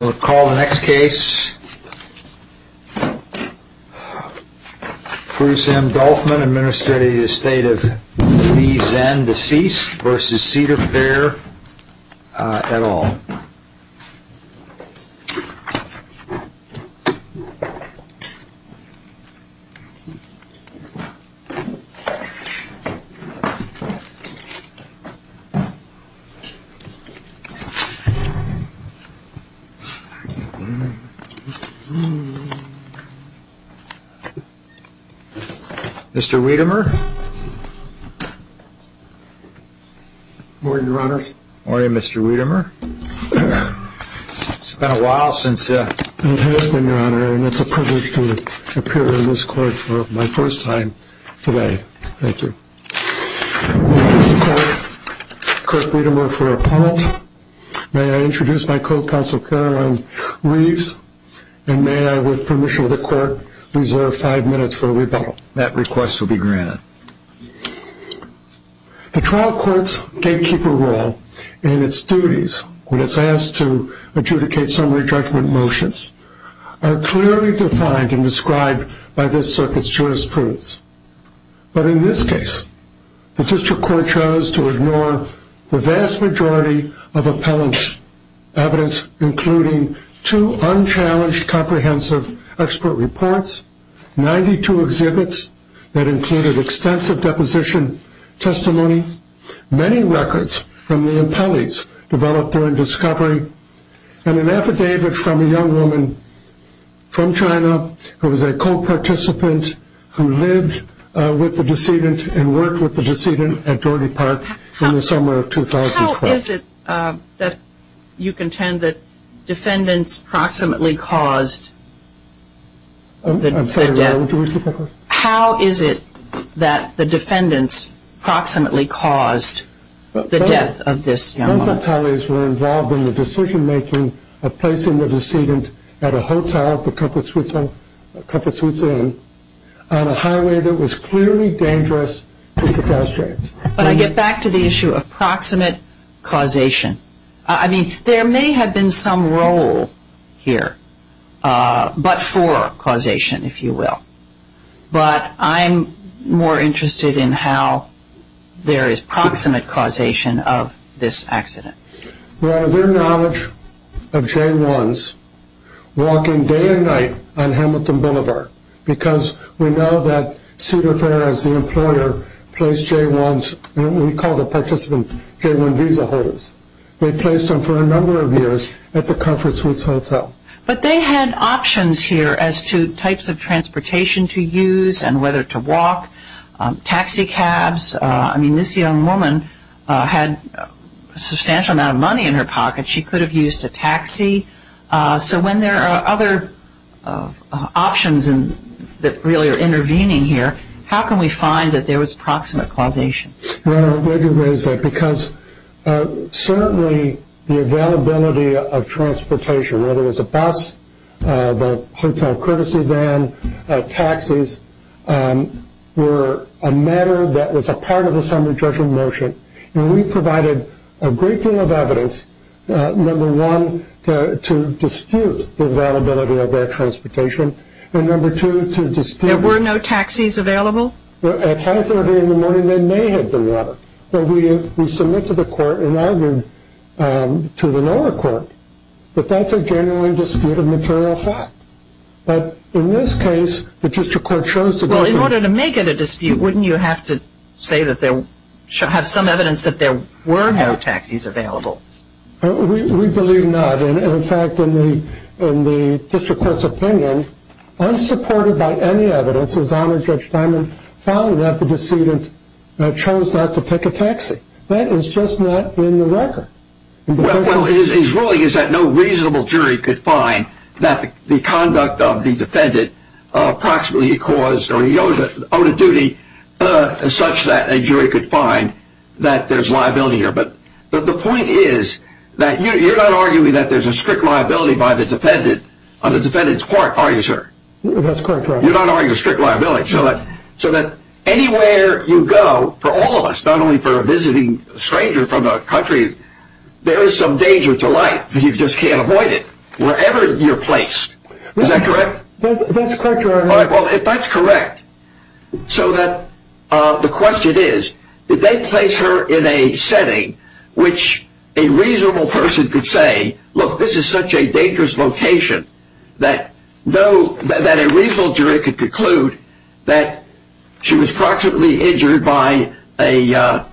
We'll call the next case. Bruce M. Dolfman, Administrative Estate of Lee, Zen, Deceased v. Cedar Fair, et al. Mr. Weidemar, it's been a while since it has been, Your Honor, and it's a privilege to appear in this court for my first time today. Thank you. May I introduce my co-counsel, Caroline Reeves, and may I, with permission of the court, reserve five minutes for a rebuttal. That request will be granted. The trial court's gatekeeper role and its duties when it's asked to adjudicate summary judgment motions are clearly defined and described by this circuit's jurisprudence. But in this case, the district court chose to ignore the vast majority of appellant's evidence, including two unchallenged comprehensive expert reports, 92 exhibits that included extensive deposition testimony, many records from the appellees developed during discovery, and an affidavit from a young woman from China who was a co-participant who lived and worked in China. How is it that you contend that defendants proximately caused the death of this young woman? But I get back to the issue of proximate causation. I mean, there may have been some role here, but for causation, if you will. But I'm more interested in how there is proximate causation of this accident. Well, their knowledge of J-1s walking day and night on Hamilton Boulevard, because we know that Cedar Fair as the employer placed J-1s, we call the participants J-1 visa holders. They placed them for a number of years at the Comfort Suites Hotel. But they had options here as to types of transportation to use and whether to walk, taxi cabs. I mean, this young woman had a substantial amount of money in her pocket. She could have used a taxi. So when there are other options that really are intervening here, how can we find that there was proximate causation? Well, let me raise that because certainly the availability of transportation, whether it was a bus, the hotel courtesy van, taxis, were a matter that was a part of the summary judgment motion. And we provided a great deal of evidence. Number one, to dispute the availability of that transportation. And number two, to dispute... There were no taxis available? At 530 in the morning, there may have been water. But we submitted a court and argued to the lower court that that's a genuine dispute of material fact. But in this case, the district court chose to... Well, in order to make it a dispute, wouldn't you have to say that there... have some evidence that there were no taxis available? We believe not. And in fact, in the district court's opinion, unsupported by any evidence, it was honored Judge Diamond found that the decedent chose not to take a taxi. That is just not in the record. Well, his ruling is that no reasonable jury could find that the conduct of the defendant proximately caused or owed a duty such that a jury could find that there's liability here. But the point is that you're not arguing that there's a strict liability by the defendant on the defendant's part, are you, sir? That's correct, Your Honor. You're not arguing a strict liability. So that anywhere you go, for all of us, not only for a visiting stranger from a country, there is some danger to life. You just can't avoid it, wherever you're placed. Is that correct? That's correct, Your Honor. All right, well, if that's correct, so that... the question is, did they place her in a setting which a reasonable person could say, look, this is such a dangerous location that no... that a reasonable jury could conclude that she was proximately injured by a...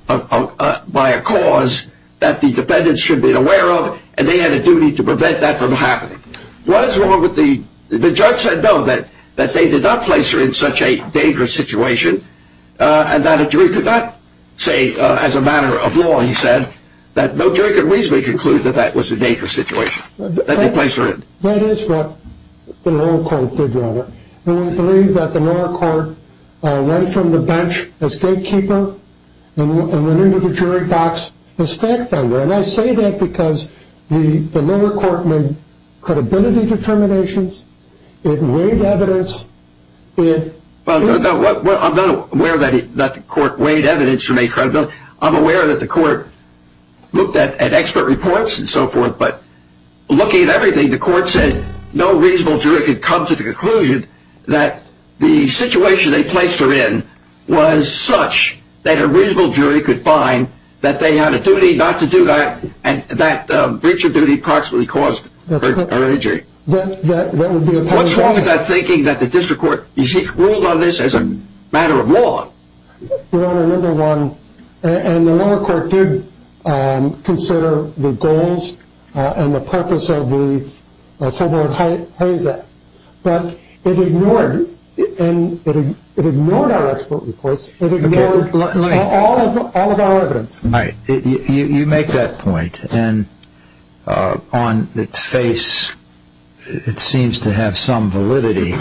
by a cause that the defendants should have been aware of and they had a duty to prevent that from happening. What is wrong with the... the judge said no, that they did not place her in such a dangerous situation and that a jury could not say as a matter of law, he said, that no jury could reasonably conclude that that was a dangerous situation that they placed her in. That is what the lower court did, Your Honor. And we believe that the lower court went from the bench as gatekeeper and went into the jury box as fact finder. And I say that because the lower court made credibility determinations, it weighed evidence, it... Well, I'm not aware that the court weighed evidence to make credibility, I'm aware that the court looked at expert reports and so forth, but looking at everything, the court said no reasonable jury could come to the conclusion that the situation they placed her in was such that a reasonable jury could find that they had a duty not to do that and that breach of duty proximately caused her injury. What's wrong with that thinking that the district court ruled on this as a matter of law? Your Honor, number one, and the lower court did consider the goals and the purpose of the Fulbright-Heinz Act, but it ignored... it ignored our expert reports, it ignored all of our evidence. You make that point, and on its face it seems to have some validity,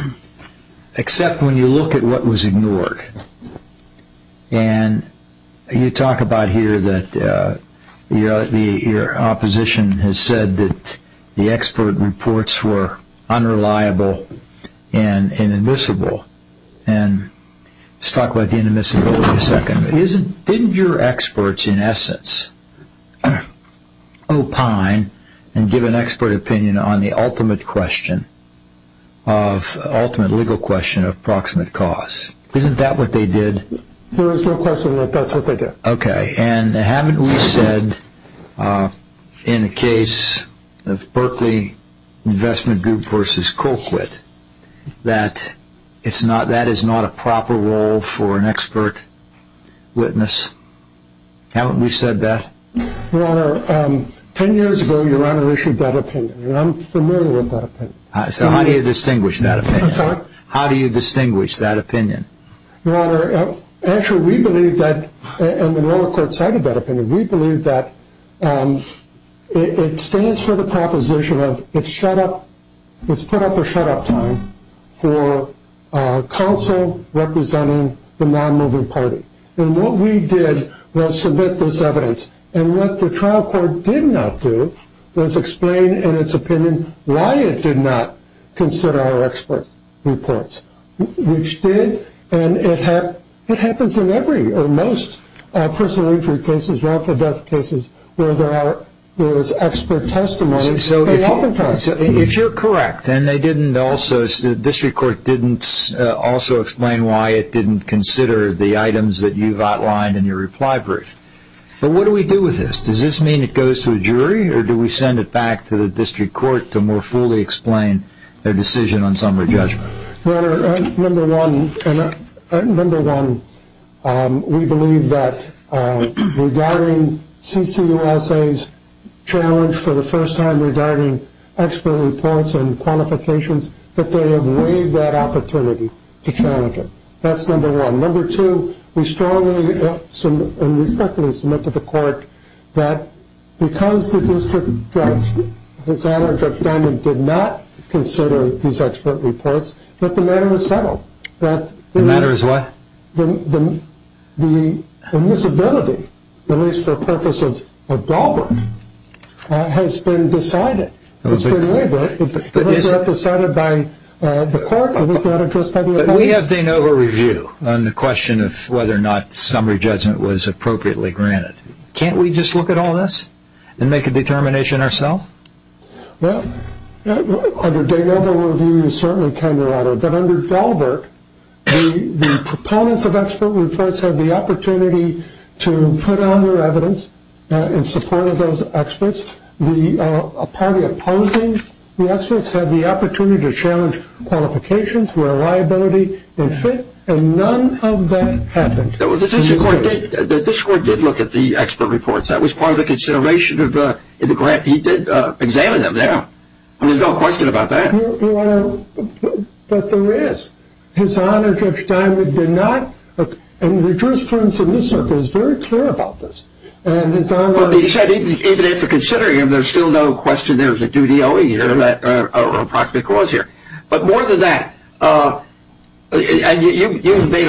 except when you look at what was ignored. And you talk about here that your opposition has said that the expert reports were unreliable and inadmissible. Let's talk about inadmissible for a second. Didn't your experts, in essence, opine and give an expert opinion on the ultimate question, ultimate legal question of proximate cause? Isn't that what they did? There is no question that that's what they did. Okay, and haven't we said in the case of Berkeley Investment Group v. Colquitt that that is not a proper role for an expert witness? Haven't we said that? Your Honor, ten years ago your Honor issued that opinion, and I'm familiar with that opinion. So how do you distinguish that opinion? I'm sorry? How do you distinguish that opinion? Your Honor, actually we believe that, and the lower court cited that opinion, we believe that it stands for the proposition of it's shut up, it's put up a shut up time for counsel representing the non-moving party. And what we did was submit this evidence, and what the trial court did not do was explain in its opinion why it did not consider our expert reports. Which did, and it happens in every or most personal injury cases, wrongful death cases, where there is expert testimony. If you're correct, and they didn't also, the district court didn't also explain why it didn't consider the items that you've outlined in your reply brief, but what do we do with this? Does this mean it goes to a jury, or do we send it back to the district court to more fully explain their decision on summary judgment? Your Honor, number one, we believe that regarding CCUSA's challenge for the first time regarding expert reports and qualifications, that they have waived that opportunity to challenge it. That's number one. Number two, we strongly and respectfully submit to the court that because the district judge, his Honor, Judge Diamond, did not consider these expert reports, that the matter is settled. The matter is what? The admissibility, at least for purposes of Dahlberg, has been decided. It's been waived. It was not decided by the court, it was not addressed by the attorneys. But we have de novo review on the question of whether or not summary judgment was appropriately granted. Can't we just look at all this and make a determination ourself? Well, under de novo review, you certainly can, Your Honor, but under Dahlberg, the proponents of expert reports have the opportunity to put on their evidence in support of those experts. The party opposing the experts have the opportunity to challenge qualifications, reliability, and fit, and none of that happened. The district court did look at the expert reports. That was part of the consideration of the grant. He did examine them now. There's no question about that. But there is. His Honor, Judge Diamond, did not. And the jurisprudence in this circuit is very clear about this. But he said even after considering them, there's still no question there's a duty owing here or approximate cause here. But more than that, and you've made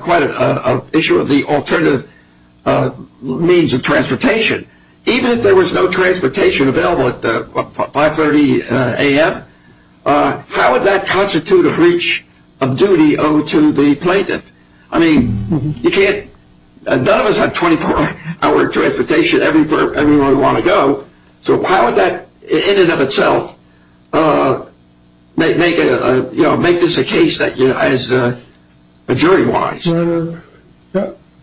quite an issue of the alternative means of transportation. Even if there was no transportation available at 5.30 a.m., how would that constitute a breach of duty owed to the plaintiff? I mean, none of us have 24-hour transportation everywhere we want to go. So how would that in and of itself make this a case as a jury-wise? Your Honor,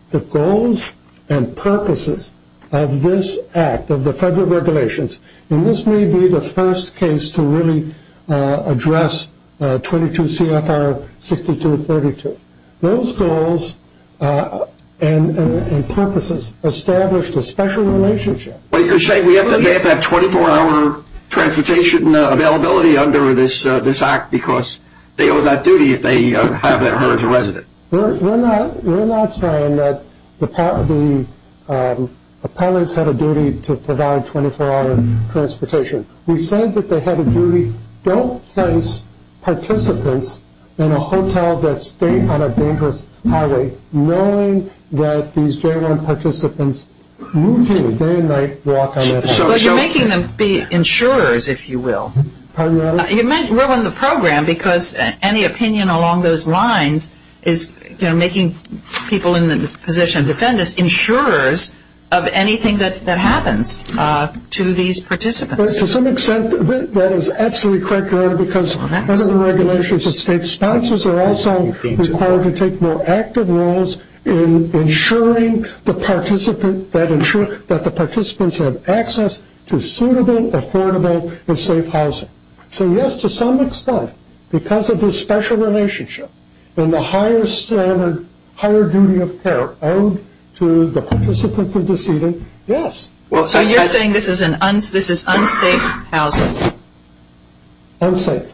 the goals and purposes of this act, of the federal regulations, and this may be the first case to really address 22 CFR 6232. Those goals and purposes established a special relationship. But you're saying we have to have 24-hour transportation availability under this act because they owe that duty if they have it as a resident. We're not saying that the appellants have a duty to provide 24-hour transportation. We said that they have a duty. Don't place participants in a hotel that's staying on a dangerous highway knowing that these J1 participants routinely, day and night, walk on that highway. But you're making them be insurers, if you will. Pardon me, Your Honor? You might ruin the program because any opinion along those lines is making people in the position of defendants insurers of anything that happens to these participants. To some extent, that is absolutely correct, Your Honor, because under the regulations the state sponsors are also required to take more active roles in ensuring that the participants have access to suitable, affordable and safe housing. So yes, to some extent, because of this special relationship and the higher standard, higher duty of care owed to the participants in the seating, yes. So you're saying this is unsafe housing? Unsafe.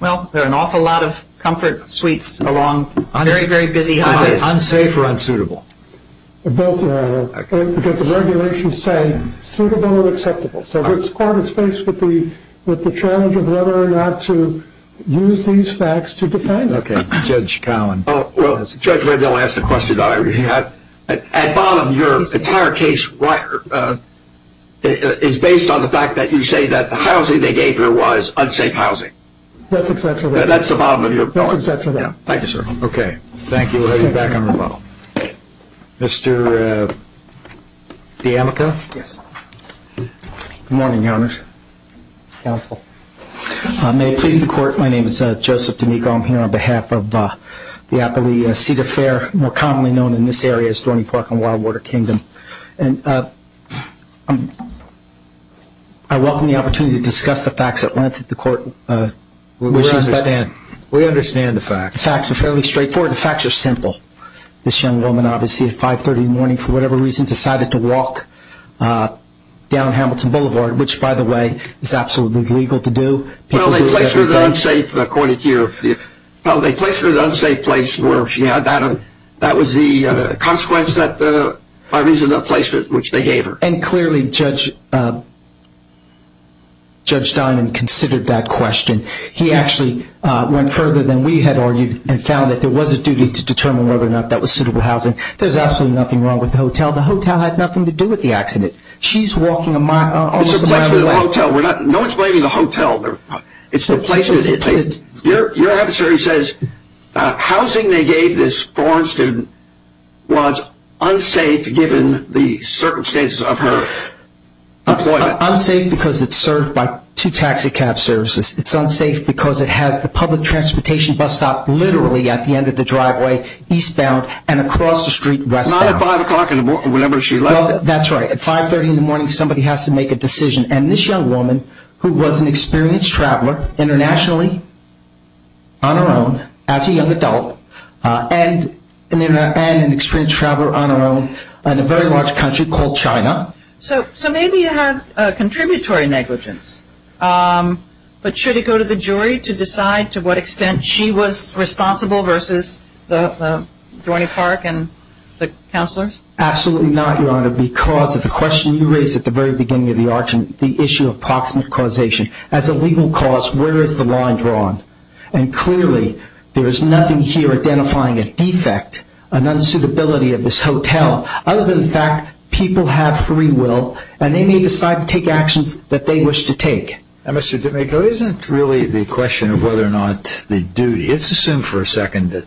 Well, there are an awful lot of comfort suites along very, very busy highways. Unsafe or unsuitable? Both, Your Honor, because the regulations say suitable and acceptable. So this court is faced with the challenge of whether or not to use these facts to defend. Okay. Judge Collin. Well, Judge Randall asked a question that I already had. At bottom, your entire case is based on the fact that you say that the housing they gave you was unsafe housing. That's exactly right. That's the bottom of your point. That's exactly right. Thank you, sir. Okay. Thank you. We'll have you back on rebuttal. Mr. D'Amico? Yes. Good morning, Your Honor. Counsel. May it please the Court, my name is Joseph D'Amico. I'm here on behalf of the Appalachia Cedar Fair, more commonly known in this area as Dorney Park and Wildwater Kingdom. And I welcome the opportunity to discuss the facts at length that the Court wishes. We understand. We understand the facts. The facts are fairly straightforward. The facts are simple. This young woman, obviously, at 5.30 in the morning, for whatever reason, decided to walk down Hamilton Boulevard, which, by the way, is absolutely legal to do. Well, they placed her in an unsafe place where she had that. That was the consequence, by reason of the placement, which they gave her. And clearly, Judge Diamond considered that question. He actually went further than we had argued and found that there was a duty to determine whether or not that was suitable housing. There's absolutely nothing wrong with the hotel. The hotel had nothing to do with the accident. She's walking almost a mile away. It's the placement of the hotel. No one's blaming the hotel. It's the placement. Your adversary says housing they gave this foreign student was unsafe given the circumstances of her employment. It's unsafe because it's served by two taxi cab services. It's unsafe because it has the public transportation bus stop literally at the end of the driveway, eastbound, and across the street, westbound. Not at 5 o'clock in the morning, whenever she left. That's right. At 5.30 in the morning, somebody has to make a decision. And this young woman, who was an experienced traveler, internationally, on her own, as a young adult, and an experienced traveler on her own in a very large country called China. So maybe you have contributory negligence. But should it go to the jury to decide to what extent she was responsible versus the Dorney Park and the counselors? Absolutely not, Your Honor, because of the question you raised at the very beginning of the argument, the issue of proximate causation. As a legal cause, where is the line drawn? And clearly, there is nothing here identifying a defect, an unsuitability of this hotel, other than the fact people have free will, and they may decide to take actions that they wish to take. Now, Mr. Domenico, isn't really the question of whether or not the duty, let's assume for a second that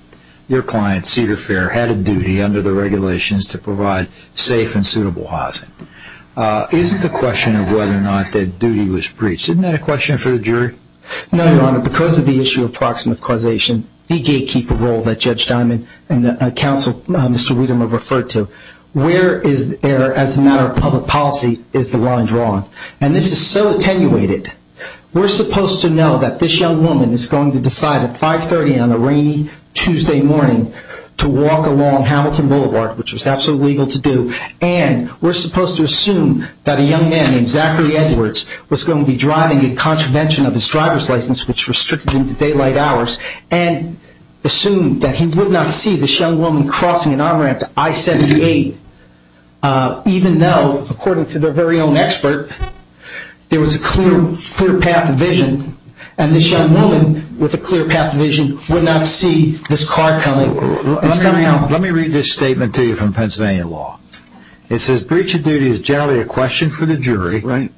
your client, Cedar Fair, had a duty under the regulations to provide safe and suitable housing. Isn't the question of whether or not that duty was breached, isn't that a question for the jury? No, Your Honor, because of the issue of proximate causation, the gatekeeper role that Judge Diamond and Counsel Mr. Wiedemann referred to, where, as a matter of public policy, is the line drawn? And this is so attenuated. We're supposed to know that this young woman is going to decide at 5.30 on a rainy Tuesday morning to walk along Hamilton Boulevard, which was absolutely legal to do, and we're supposed to assume that a young man named Zachary Edwards was going to be driving in contravention of his driver's license, which restricted him to daylight hours, and assume that he would not see this young woman crossing an on-ramp to I-78, even though, according to their very own expert, there was a clear path of vision, and this young woman with a clear path of vision would not see this car coming. Let me read this statement to you from Pennsylvania law. It says, Breach of Duty is generally a question for the jury,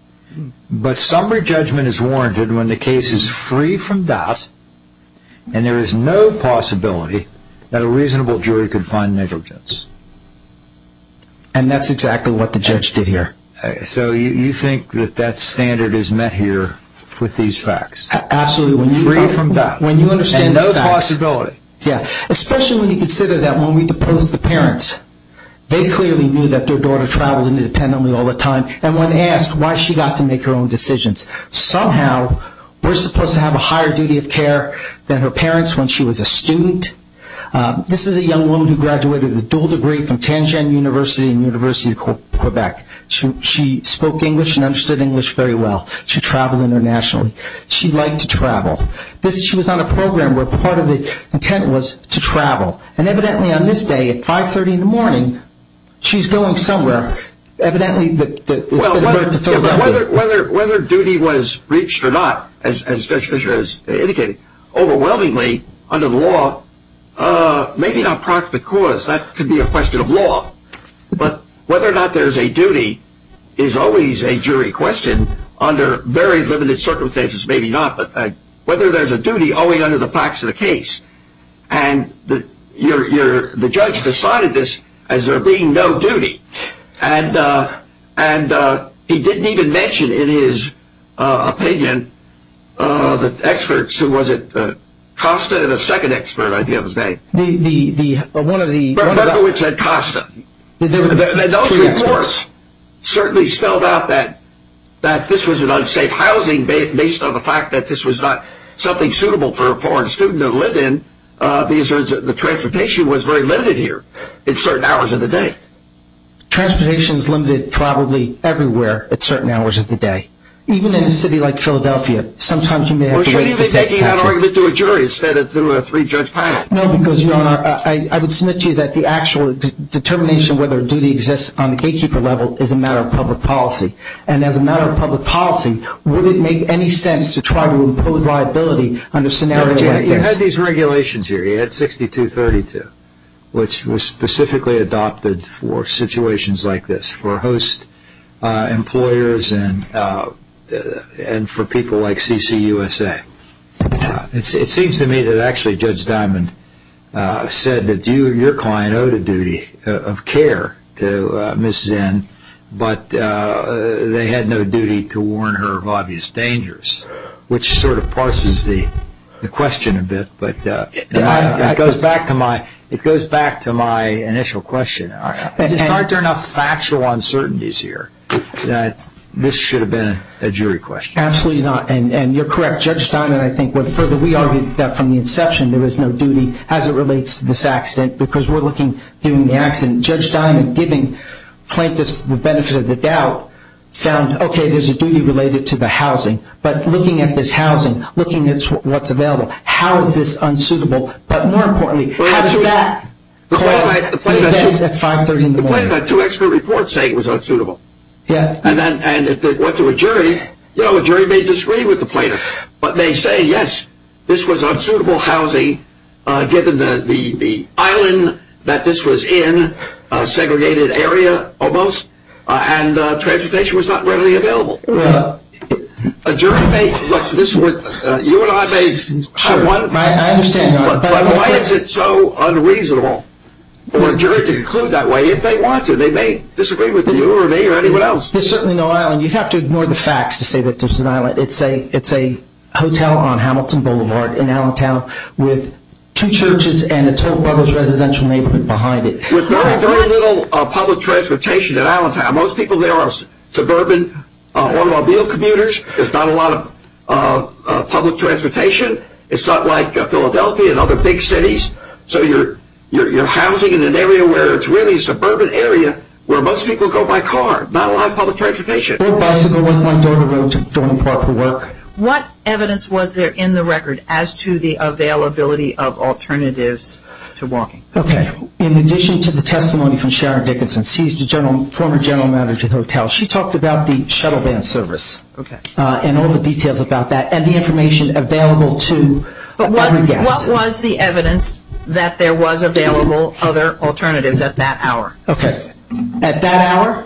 but summary judgment is warranted when the case is free from doubt and there is no possibility that a reasonable jury could find negligence. And that's exactly what the judge did here. So you think that that standard is met here with these facts? Absolutely. Free from doubt and no possibility. Especially when you consider that when we deposed the parents, they clearly knew that their daughter traveled independently all the time, and when asked why she got to make her own decisions. Somehow we're supposed to have a higher duty of care than her parents when she was a student. This is a young woman who graduated with a dual degree from Tangier University and University of Quebec. She spoke English and understood English very well. She traveled internationally. She liked to travel. She was on a program where part of the intent was to travel, and evidently on this day at 5.30 in the morning, she's going somewhere. Well, whether duty was breached or not, as Judge Fischer has indicated, overwhelmingly under the law, maybe not proximate cause. That could be a question of law. But whether or not there's a duty is always a jury question under very limited circumstances. Maybe not, but whether there's a duty only under the facts of the case. And the judge decided this as there being no duty, and he didn't even mention in his opinion the experts. Who was it? Costa and a second expert, I think it was named. The one of the – That's who it said, Costa. And those reports certainly spelled out that this was an unsafe housing based on the fact that this was not something suitable for a foreign student to live in because the transportation was very limited here at certain hours of the day. Transportation is limited probably everywhere at certain hours of the day, even in a city like Philadelphia. Sometimes you may have to wait for the tax attorney. Why are you making that argument to a jury instead of to a three-judge panel? No, because, Your Honor, I would submit to you that the actual determination whether a duty exists on the gatekeeper level is a matter of public policy. And as a matter of public policy, would it make any sense to try to impose liability under scenarios like this? You had these regulations here. You had 6232, which was specifically adopted for situations like this, for host employers and for people like CCUSA. It seems to me that actually Judge Diamond said that your client owed a duty of care to Ms. Zinn, but they had no duty to warn her of obvious dangers, which sort of parses the question a bit, but it goes back to my initial question. It's hard to enough factual uncertainties here that this should have been a jury question. Absolutely not, and you're correct. Judge Diamond, I think, would further re-argue that from the inception there was no duty as it relates to this accident because we're looking at doing the accident. And Judge Diamond giving plaintiffs the benefit of the doubt found, okay, there's a duty related to the housing, but looking at this housing, looking at what's available, how is this unsuitable? But more importantly, how does that cause the events at 530 in the morning? The plaintiff had two expert reports saying it was unsuitable. Yes. And if it went to a jury, you know, a jury may disagree with the plaintiff, but they say, yes, this was unsuitable housing given the island that this was in, a segregated area almost, and transportation was not readily available. Well. A jury may, look, this would, you and I may have one. I understand that. But why is it so unreasonable for a jury to conclude that way if they want to? They may disagree with you or me or anyone else. There's certainly no island. You'd have to ignore the facts to say that there's an island. It's a hotel on Hamilton Boulevard in Allentown with two churches and a Toll Brothers residential neighborhood behind it. With very, very little public transportation in Allentown, most people there are suburban automobile commuters. There's not a lot of public transportation. It's not like Philadelphia and other big cities. So you're housing in an area where it's really a suburban area where most people go by car, not a lot of public transportation. I rode bicycle on my daughter's road to Thornton Park for work. What evidence was there in the record as to the availability of alternatives to walking? Okay. In addition to the testimony from Sharon Dickinson, she's the former general manager of the hotel, she talked about the shuttle van service and all the details about that and the information available to other guests. But what was the evidence that there was available other alternatives at that hour? Okay. At that hour?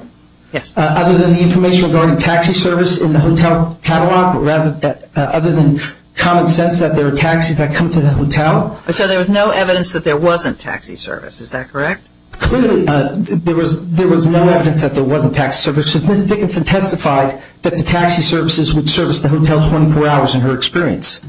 Yes. Other than the information regarding taxi service in the hotel catalog, rather than common sense that there were taxis that come to the hotel. So there was no evidence that there wasn't taxi service. Is that correct? Clearly there was no evidence that there wasn't taxi service. So Ms. Dickinson testified that the taxi services would service the hotel 24 hours in her experience.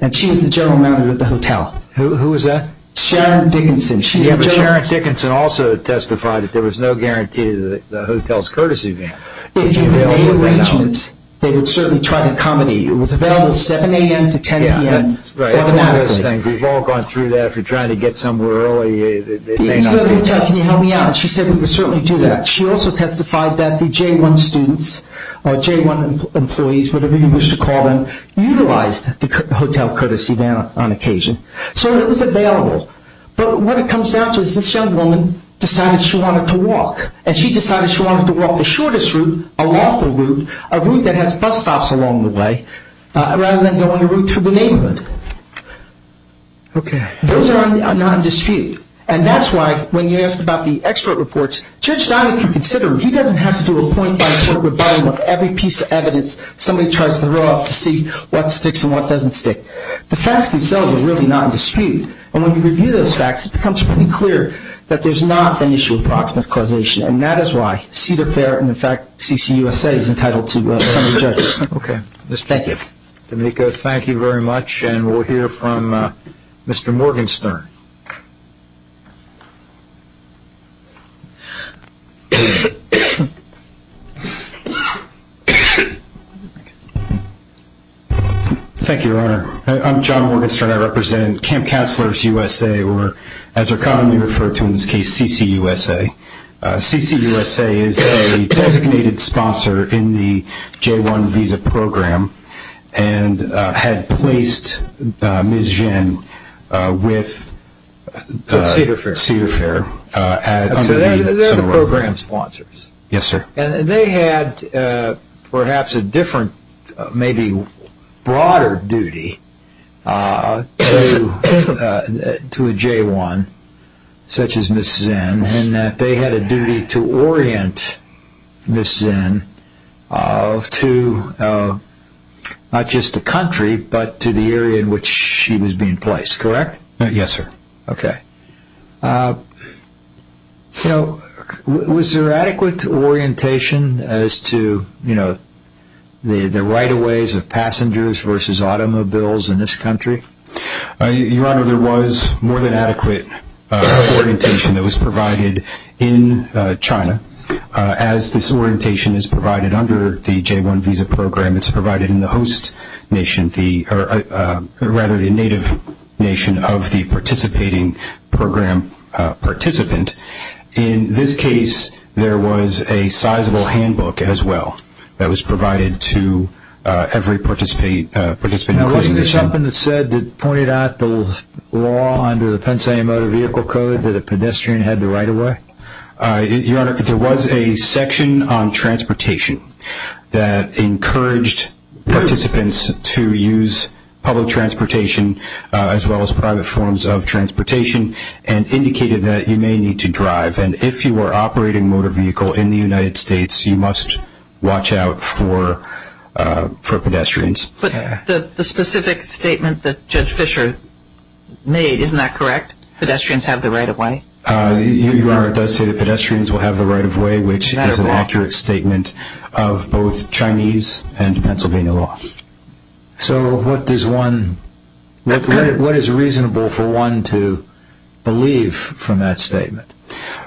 And she is the general manager of the hotel. Who is that? Sharon Dickinson. Sharon Dickinson also testified that there was no guarantee that the hotel's courtesy van would be available. If you made arrangements, they would certainly try to accommodate you. It was available 7 a.m. to 10 p.m. That's right. We've all gone through that. If you're trying to get somewhere early, it may not be. Can you help me out? She said we could certainly do that. She also testified that the J-1 students or J-1 employees, whatever you wish to call them, utilized the hotel courtesy van on occasion. So it was available. But what it comes down to is this young woman decided she wanted to walk. And she decided she wanted to walk the shortest route, a lawful route, a route that has bus stops along the way, rather than going the route through the neighborhood. Okay. Those are not in dispute. And that's why when you ask about the expert reports, Judge Steinick can consider them. He doesn't have to do a point-by-point rebuttal on every piece of evidence somebody tries to throw out to see what sticks and what doesn't stick. The facts themselves are really not in dispute. And when you review those facts, it becomes pretty clear that there's not an issue of proximate causation. And that is why Cedar Fair and, in fact, CCUSA is entitled to some of the judges. Okay. Thank you. Domenico, thank you very much. And we'll hear from Mr. Morgenstern. Thank you, Your Honor. I'm John Morgenstern. I represent Camp Counselors USA, or as they're commonly referred to in this case, CCUSA. CCUSA is a designated sponsor in the J-1 visa program and had placed Ms. Zhen with Cedar Fair. So they're the program sponsors? Yes, sir. And they had perhaps a different, maybe broader duty to a J-1 such as Ms. Zhen in that they had a duty to orient Ms. Zhen to not just the country, but to the area in which she was being placed, correct? Yes, sir. Okay. So was there adequate orientation as to the right-of-ways of passengers versus automobiles in this country? Your Honor, there was more than adequate orientation that was provided in China. As this orientation is provided under the J-1 visa program, it's provided in the native nation of the participating program participant. In this case, there was a sizable handbook as well that was provided to every participant. Now wasn't there something that pointed out the law under the Pennsylvania Motor Vehicle Code that a pedestrian had the right-of-way? Your Honor, there was a section on transportation that encouraged participants to use public transportation as well as private forms of transportation and indicated that you may need to drive. And if you were operating a motor vehicle in the United States, you must watch out for pedestrians. But the specific statement that Judge Fischer made, isn't that correct? Pedestrians have the right-of-way? Your Honor, it does say that pedestrians will have the right-of-way, which is an accurate statement of both Chinese and Pennsylvania law. So what is reasonable for one to believe from that statement?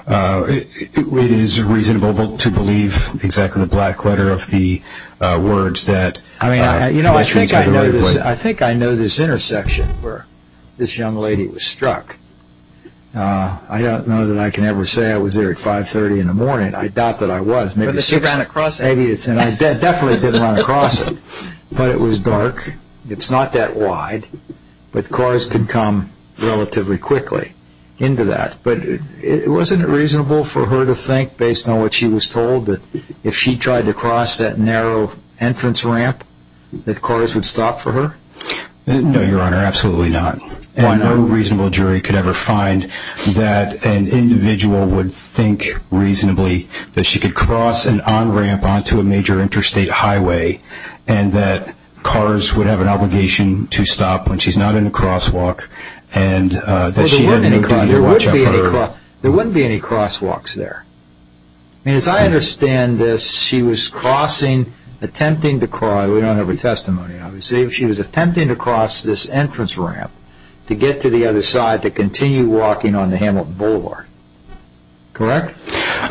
It is reasonable to believe exactly the black letter of the words that pedestrians have the right-of-way. I think I know this intersection where this young lady was struck. I don't know that I can ever say I was there at 5.30 in the morning. I doubt that I was. But she ran across it. I definitely did run across it. But it was dark. It's not that wide. But cars could come relatively quickly into that. But wasn't it reasonable for her to think, based on what she was told, that if she tried to cross that narrow entrance ramp, that cars would stop for her? No, Your Honor, absolutely not. And no reasonable jury could ever find that an individual would think reasonably that she could cross an on-ramp onto a major interstate highway and that cars would have an obligation to stop when she's not in a crosswalk and that she had no duty to watch out for her. There wouldn't be any crosswalks there. As I understand this, she was crossing, attempting to cross, we don't have her testimony, obviously, but she was attempting to cross this entrance ramp to get to the other side to continue walking on the Hamilton Boulevard. Correct?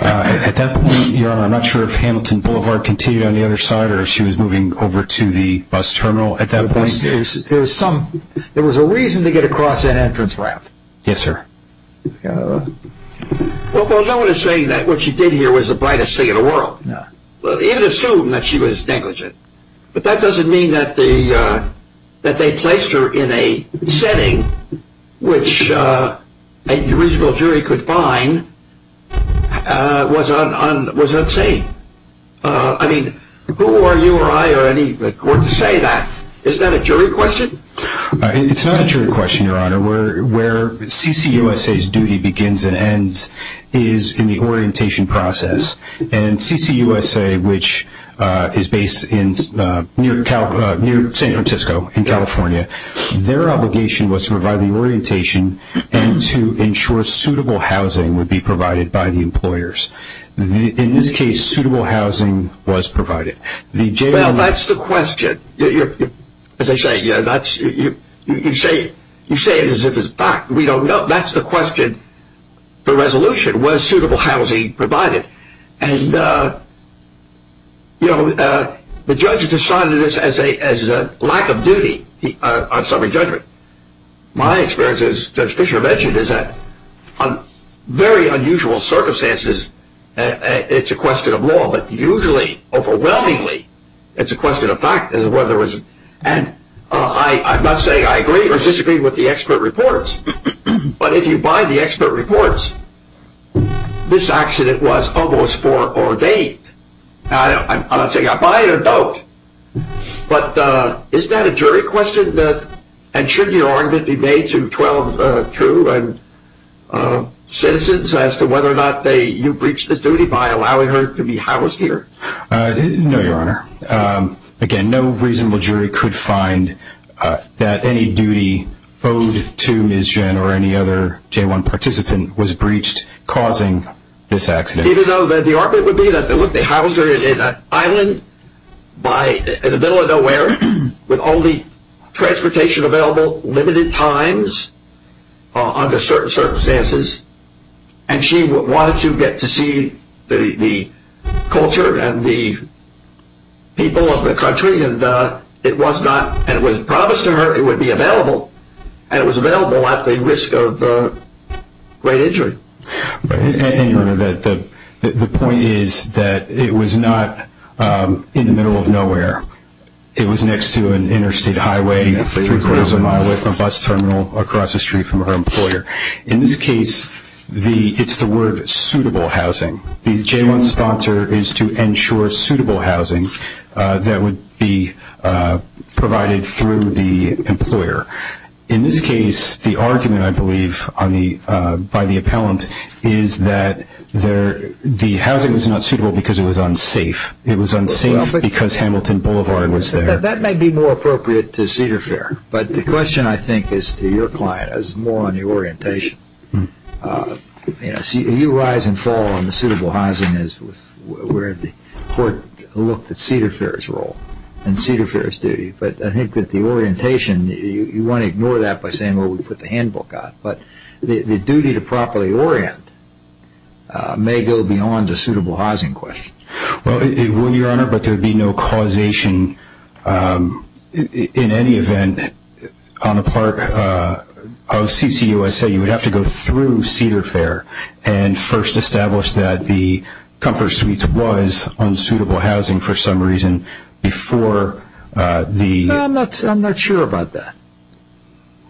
At that point, Your Honor, I'm not sure if Hamilton Boulevard continued on the other side or if she was moving over to the bus terminal at that point. There was a reason to get across that entrance ramp. Yes, sir. Well, no one is saying that what she did here was the brightest thing in the world. Even assume that she was negligent. But that doesn't mean that they placed her in a setting which a reasonable jury could find was unsafe. I mean, who are you or I or any court to say that? Is that a jury question? It's not a jury question, Your Honor. Where CCUSA's duty begins and ends is in the orientation process. And CCUSA, which is based near San Francisco in California, their obligation was to provide the orientation and to ensure suitable housing would be provided by the employers. In this case, suitable housing was provided. Well, that's the question. As I say, you say it as if it's a fact. We don't know. That's the question for resolution. Was suitable housing provided? And, you know, the judge decided this as a lack of duty on summary judgment. My experience, as Judge Fischer mentioned, is that on very unusual circumstances, it's a question of law. But usually, overwhelmingly, it's a question of fact. And I'm not saying I agree or disagree with the expert reports. But if you buy the expert reports, this accident was almost foreordained. I'm not saying I buy it or don't. But is that a jury question? And should your argument be made to 12 true citizens as to whether or not you breached the duty by allowing her to be housed here? No, Your Honor. Again, no reasonable jury could find that any duty owed to Ms. Jen or any other J-1 participant was breached causing this accident. Even though the argument would be that, look, they housed her in an island in the middle of nowhere with all the transportation available, limited times under certain circumstances, and she wanted to get to see the culture and the people of the country, and it was promised to her it would be available, and it was available at the risk of great injury. And, Your Honor, the point is that it was not in the middle of nowhere. It was next to an interstate highway three-quarters of a mile away from a bus terminal across the street from her employer. In this case, it's the word suitable housing. The J-1 sponsor is to ensure suitable housing that would be provided through the employer. In this case, the argument, I believe, by the appellant is that the housing was not suitable because it was unsafe. It was unsafe because Hamilton Boulevard was there. That might be more appropriate to Cedar Fair. But the question, I think, is to your client. It's more on the orientation. You rise and fall on the suitable housing as where the court looked at Cedar Fair's role and Cedar Fair's duty, but I think that the orientation, you want to ignore that by saying, well, we put the handbook on it. But the duty to properly orient may go beyond the suitable housing question. Well, Your Honor, but there would be no causation in any event on the part of CCUSA. You would have to go through Cedar Fair and first establish that the comfort suite was unsuitable housing for some reason before the I'm not sure about that.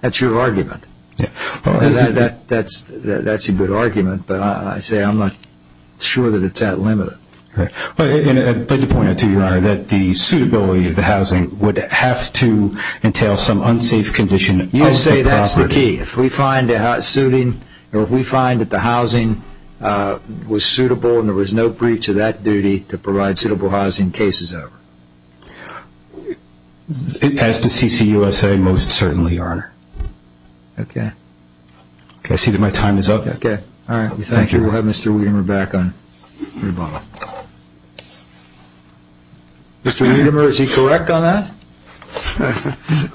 That's your argument. That's a good argument, but I say I'm not sure that it's that limited. I'd like to point out to you, Your Honor, that the suitability of the housing would have to entail some unsafe condition. You say that's the key. If we find that the housing was suitable and there was no breach of that duty to provide suitable housing, case is over. As to CCUSA, most certainly, Your Honor. Okay. I see that my time is up. Okay. All right. Thank you. We'll have Mr. Wiedemer back on rebuttal. Mr. Wiedemer, is he correct on that?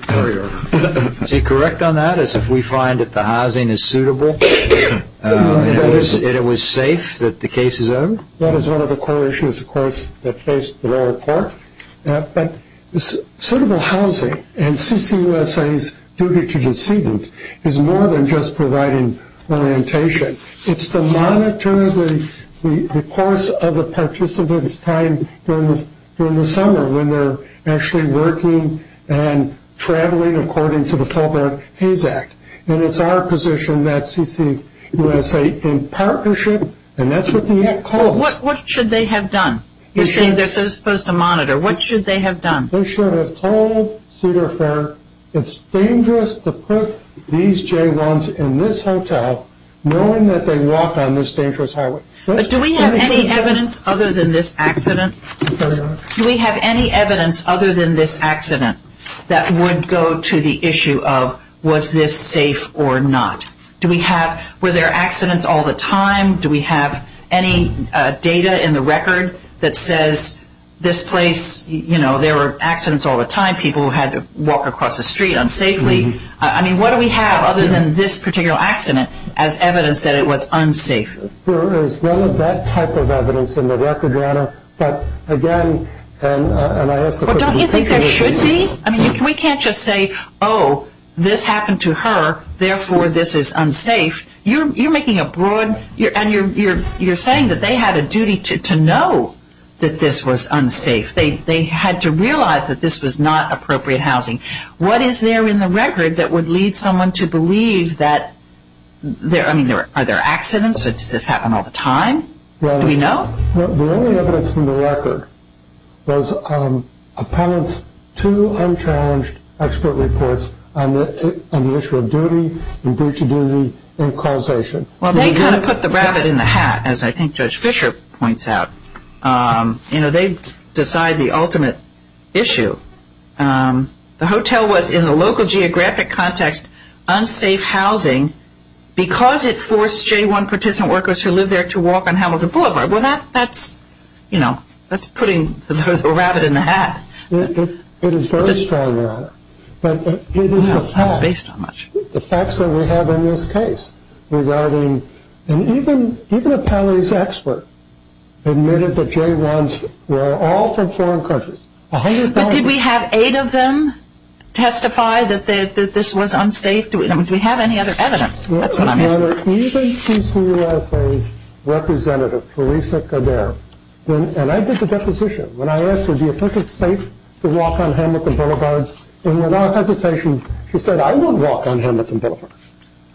Sorry, Your Honor. Is he correct on that as if we find that the housing is suitable and it was safe that the case is over? That is one of the core issues, of course, that faced the lower court. But suitable housing and CCUSA's duty to decedent is more than just providing orientation. It's to monitor the course of the participant's time during the summer when they're actually working and traveling according to the Fulbright-Hayes Act. And it's our position that CCUSA, in partnership, and that's what the Act calls. What should they have done? You're saying they're supposed to monitor. What should they have done? They should have told Cedar Fair it's dangerous to put these J1s in this hotel knowing that they walk on this dangerous highway. Sorry, Your Honor. Do we have, were there accidents all the time? Do we have any data in the record that says this place, you know, there were accidents all the time. People had to walk across the street unsafely. I mean, what do we have other than this particular accident as evidence that it was unsafe? There is none of that type of evidence in the record, Your Honor. But, again, and I ask the question. Well, don't you think there should be? I mean, we can't just say, oh, this happened to her, therefore this is unsafe. You're making a broad, and you're saying that they had a duty to know that this was unsafe. They had to realize that this was not appropriate housing. What is there in the record that would lead someone to believe that, I mean, are there accidents? Does this happen all the time? Do we know? Your Honor, the only evidence in the record was a panelist's two unchallenged expert reports on the issue of duty and breach of duty and causation. Well, they kind of put the rabbit in the hat, as I think Judge Fisher points out. You know, they decide the ultimate issue. The hotel was, in the local geographic context, unsafe housing because it forced J-1 participant workers who lived there to walk on Hamilton Boulevard. Well, that's, you know, that's putting the rabbit in the hat. It is very strong, Your Honor, but it is the facts that we have in this case regarding, and even a panelist's expert admitted that J-1s were all from foreign countries. But did we have eight of them testify that this was unsafe? Do we have any other evidence? That's what I'm asking. Your Honor, even CCUSA's representative, Theresa Coderre, and I did the deposition when I asked her, do you think it's safe to walk on Hamilton Boulevard? And without hesitation, she said, I won't walk on Hamilton Boulevard.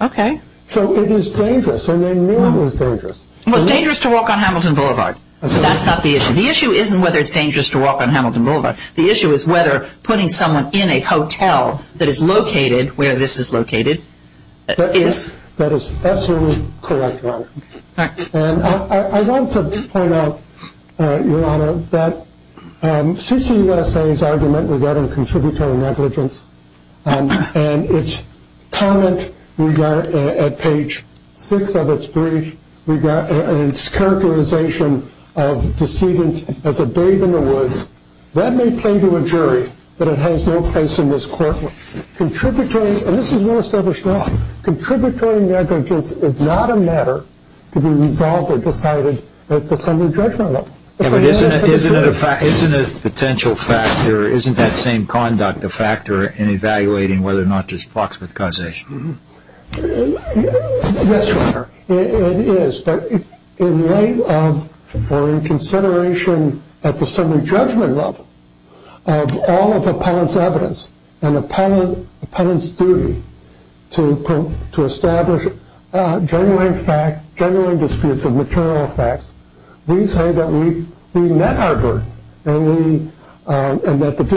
Okay. So it is dangerous, and they knew it was dangerous. Well, it's dangerous to walk on Hamilton Boulevard, but that's not the issue. The issue isn't whether it's dangerous to walk on Hamilton Boulevard. The issue is whether putting someone in a hotel that is located where this is located is. That is absolutely correct, Your Honor. And I want to point out, Your Honor, that CCUSA's argument regarding contributory negligence and its comment at page six of its brief, and its characterization of decedent as a babe in the woods, that may play to a jury, but it has no place in this court. Contributory, and this is well established now, contributory negligence is not a matter to be resolved or decided at the summary judgment level. Isn't it a potential factor, isn't that same conduct a factor in evaluating whether or not there's proximate causation? Yes, Your Honor, it is. But in light of or in consideration at the summary judgment level of all of appellant's evidence and appellant's duty to establish genuine facts, genuine disputes of material facts, we say that we met our burden, and that the dispute was resolved.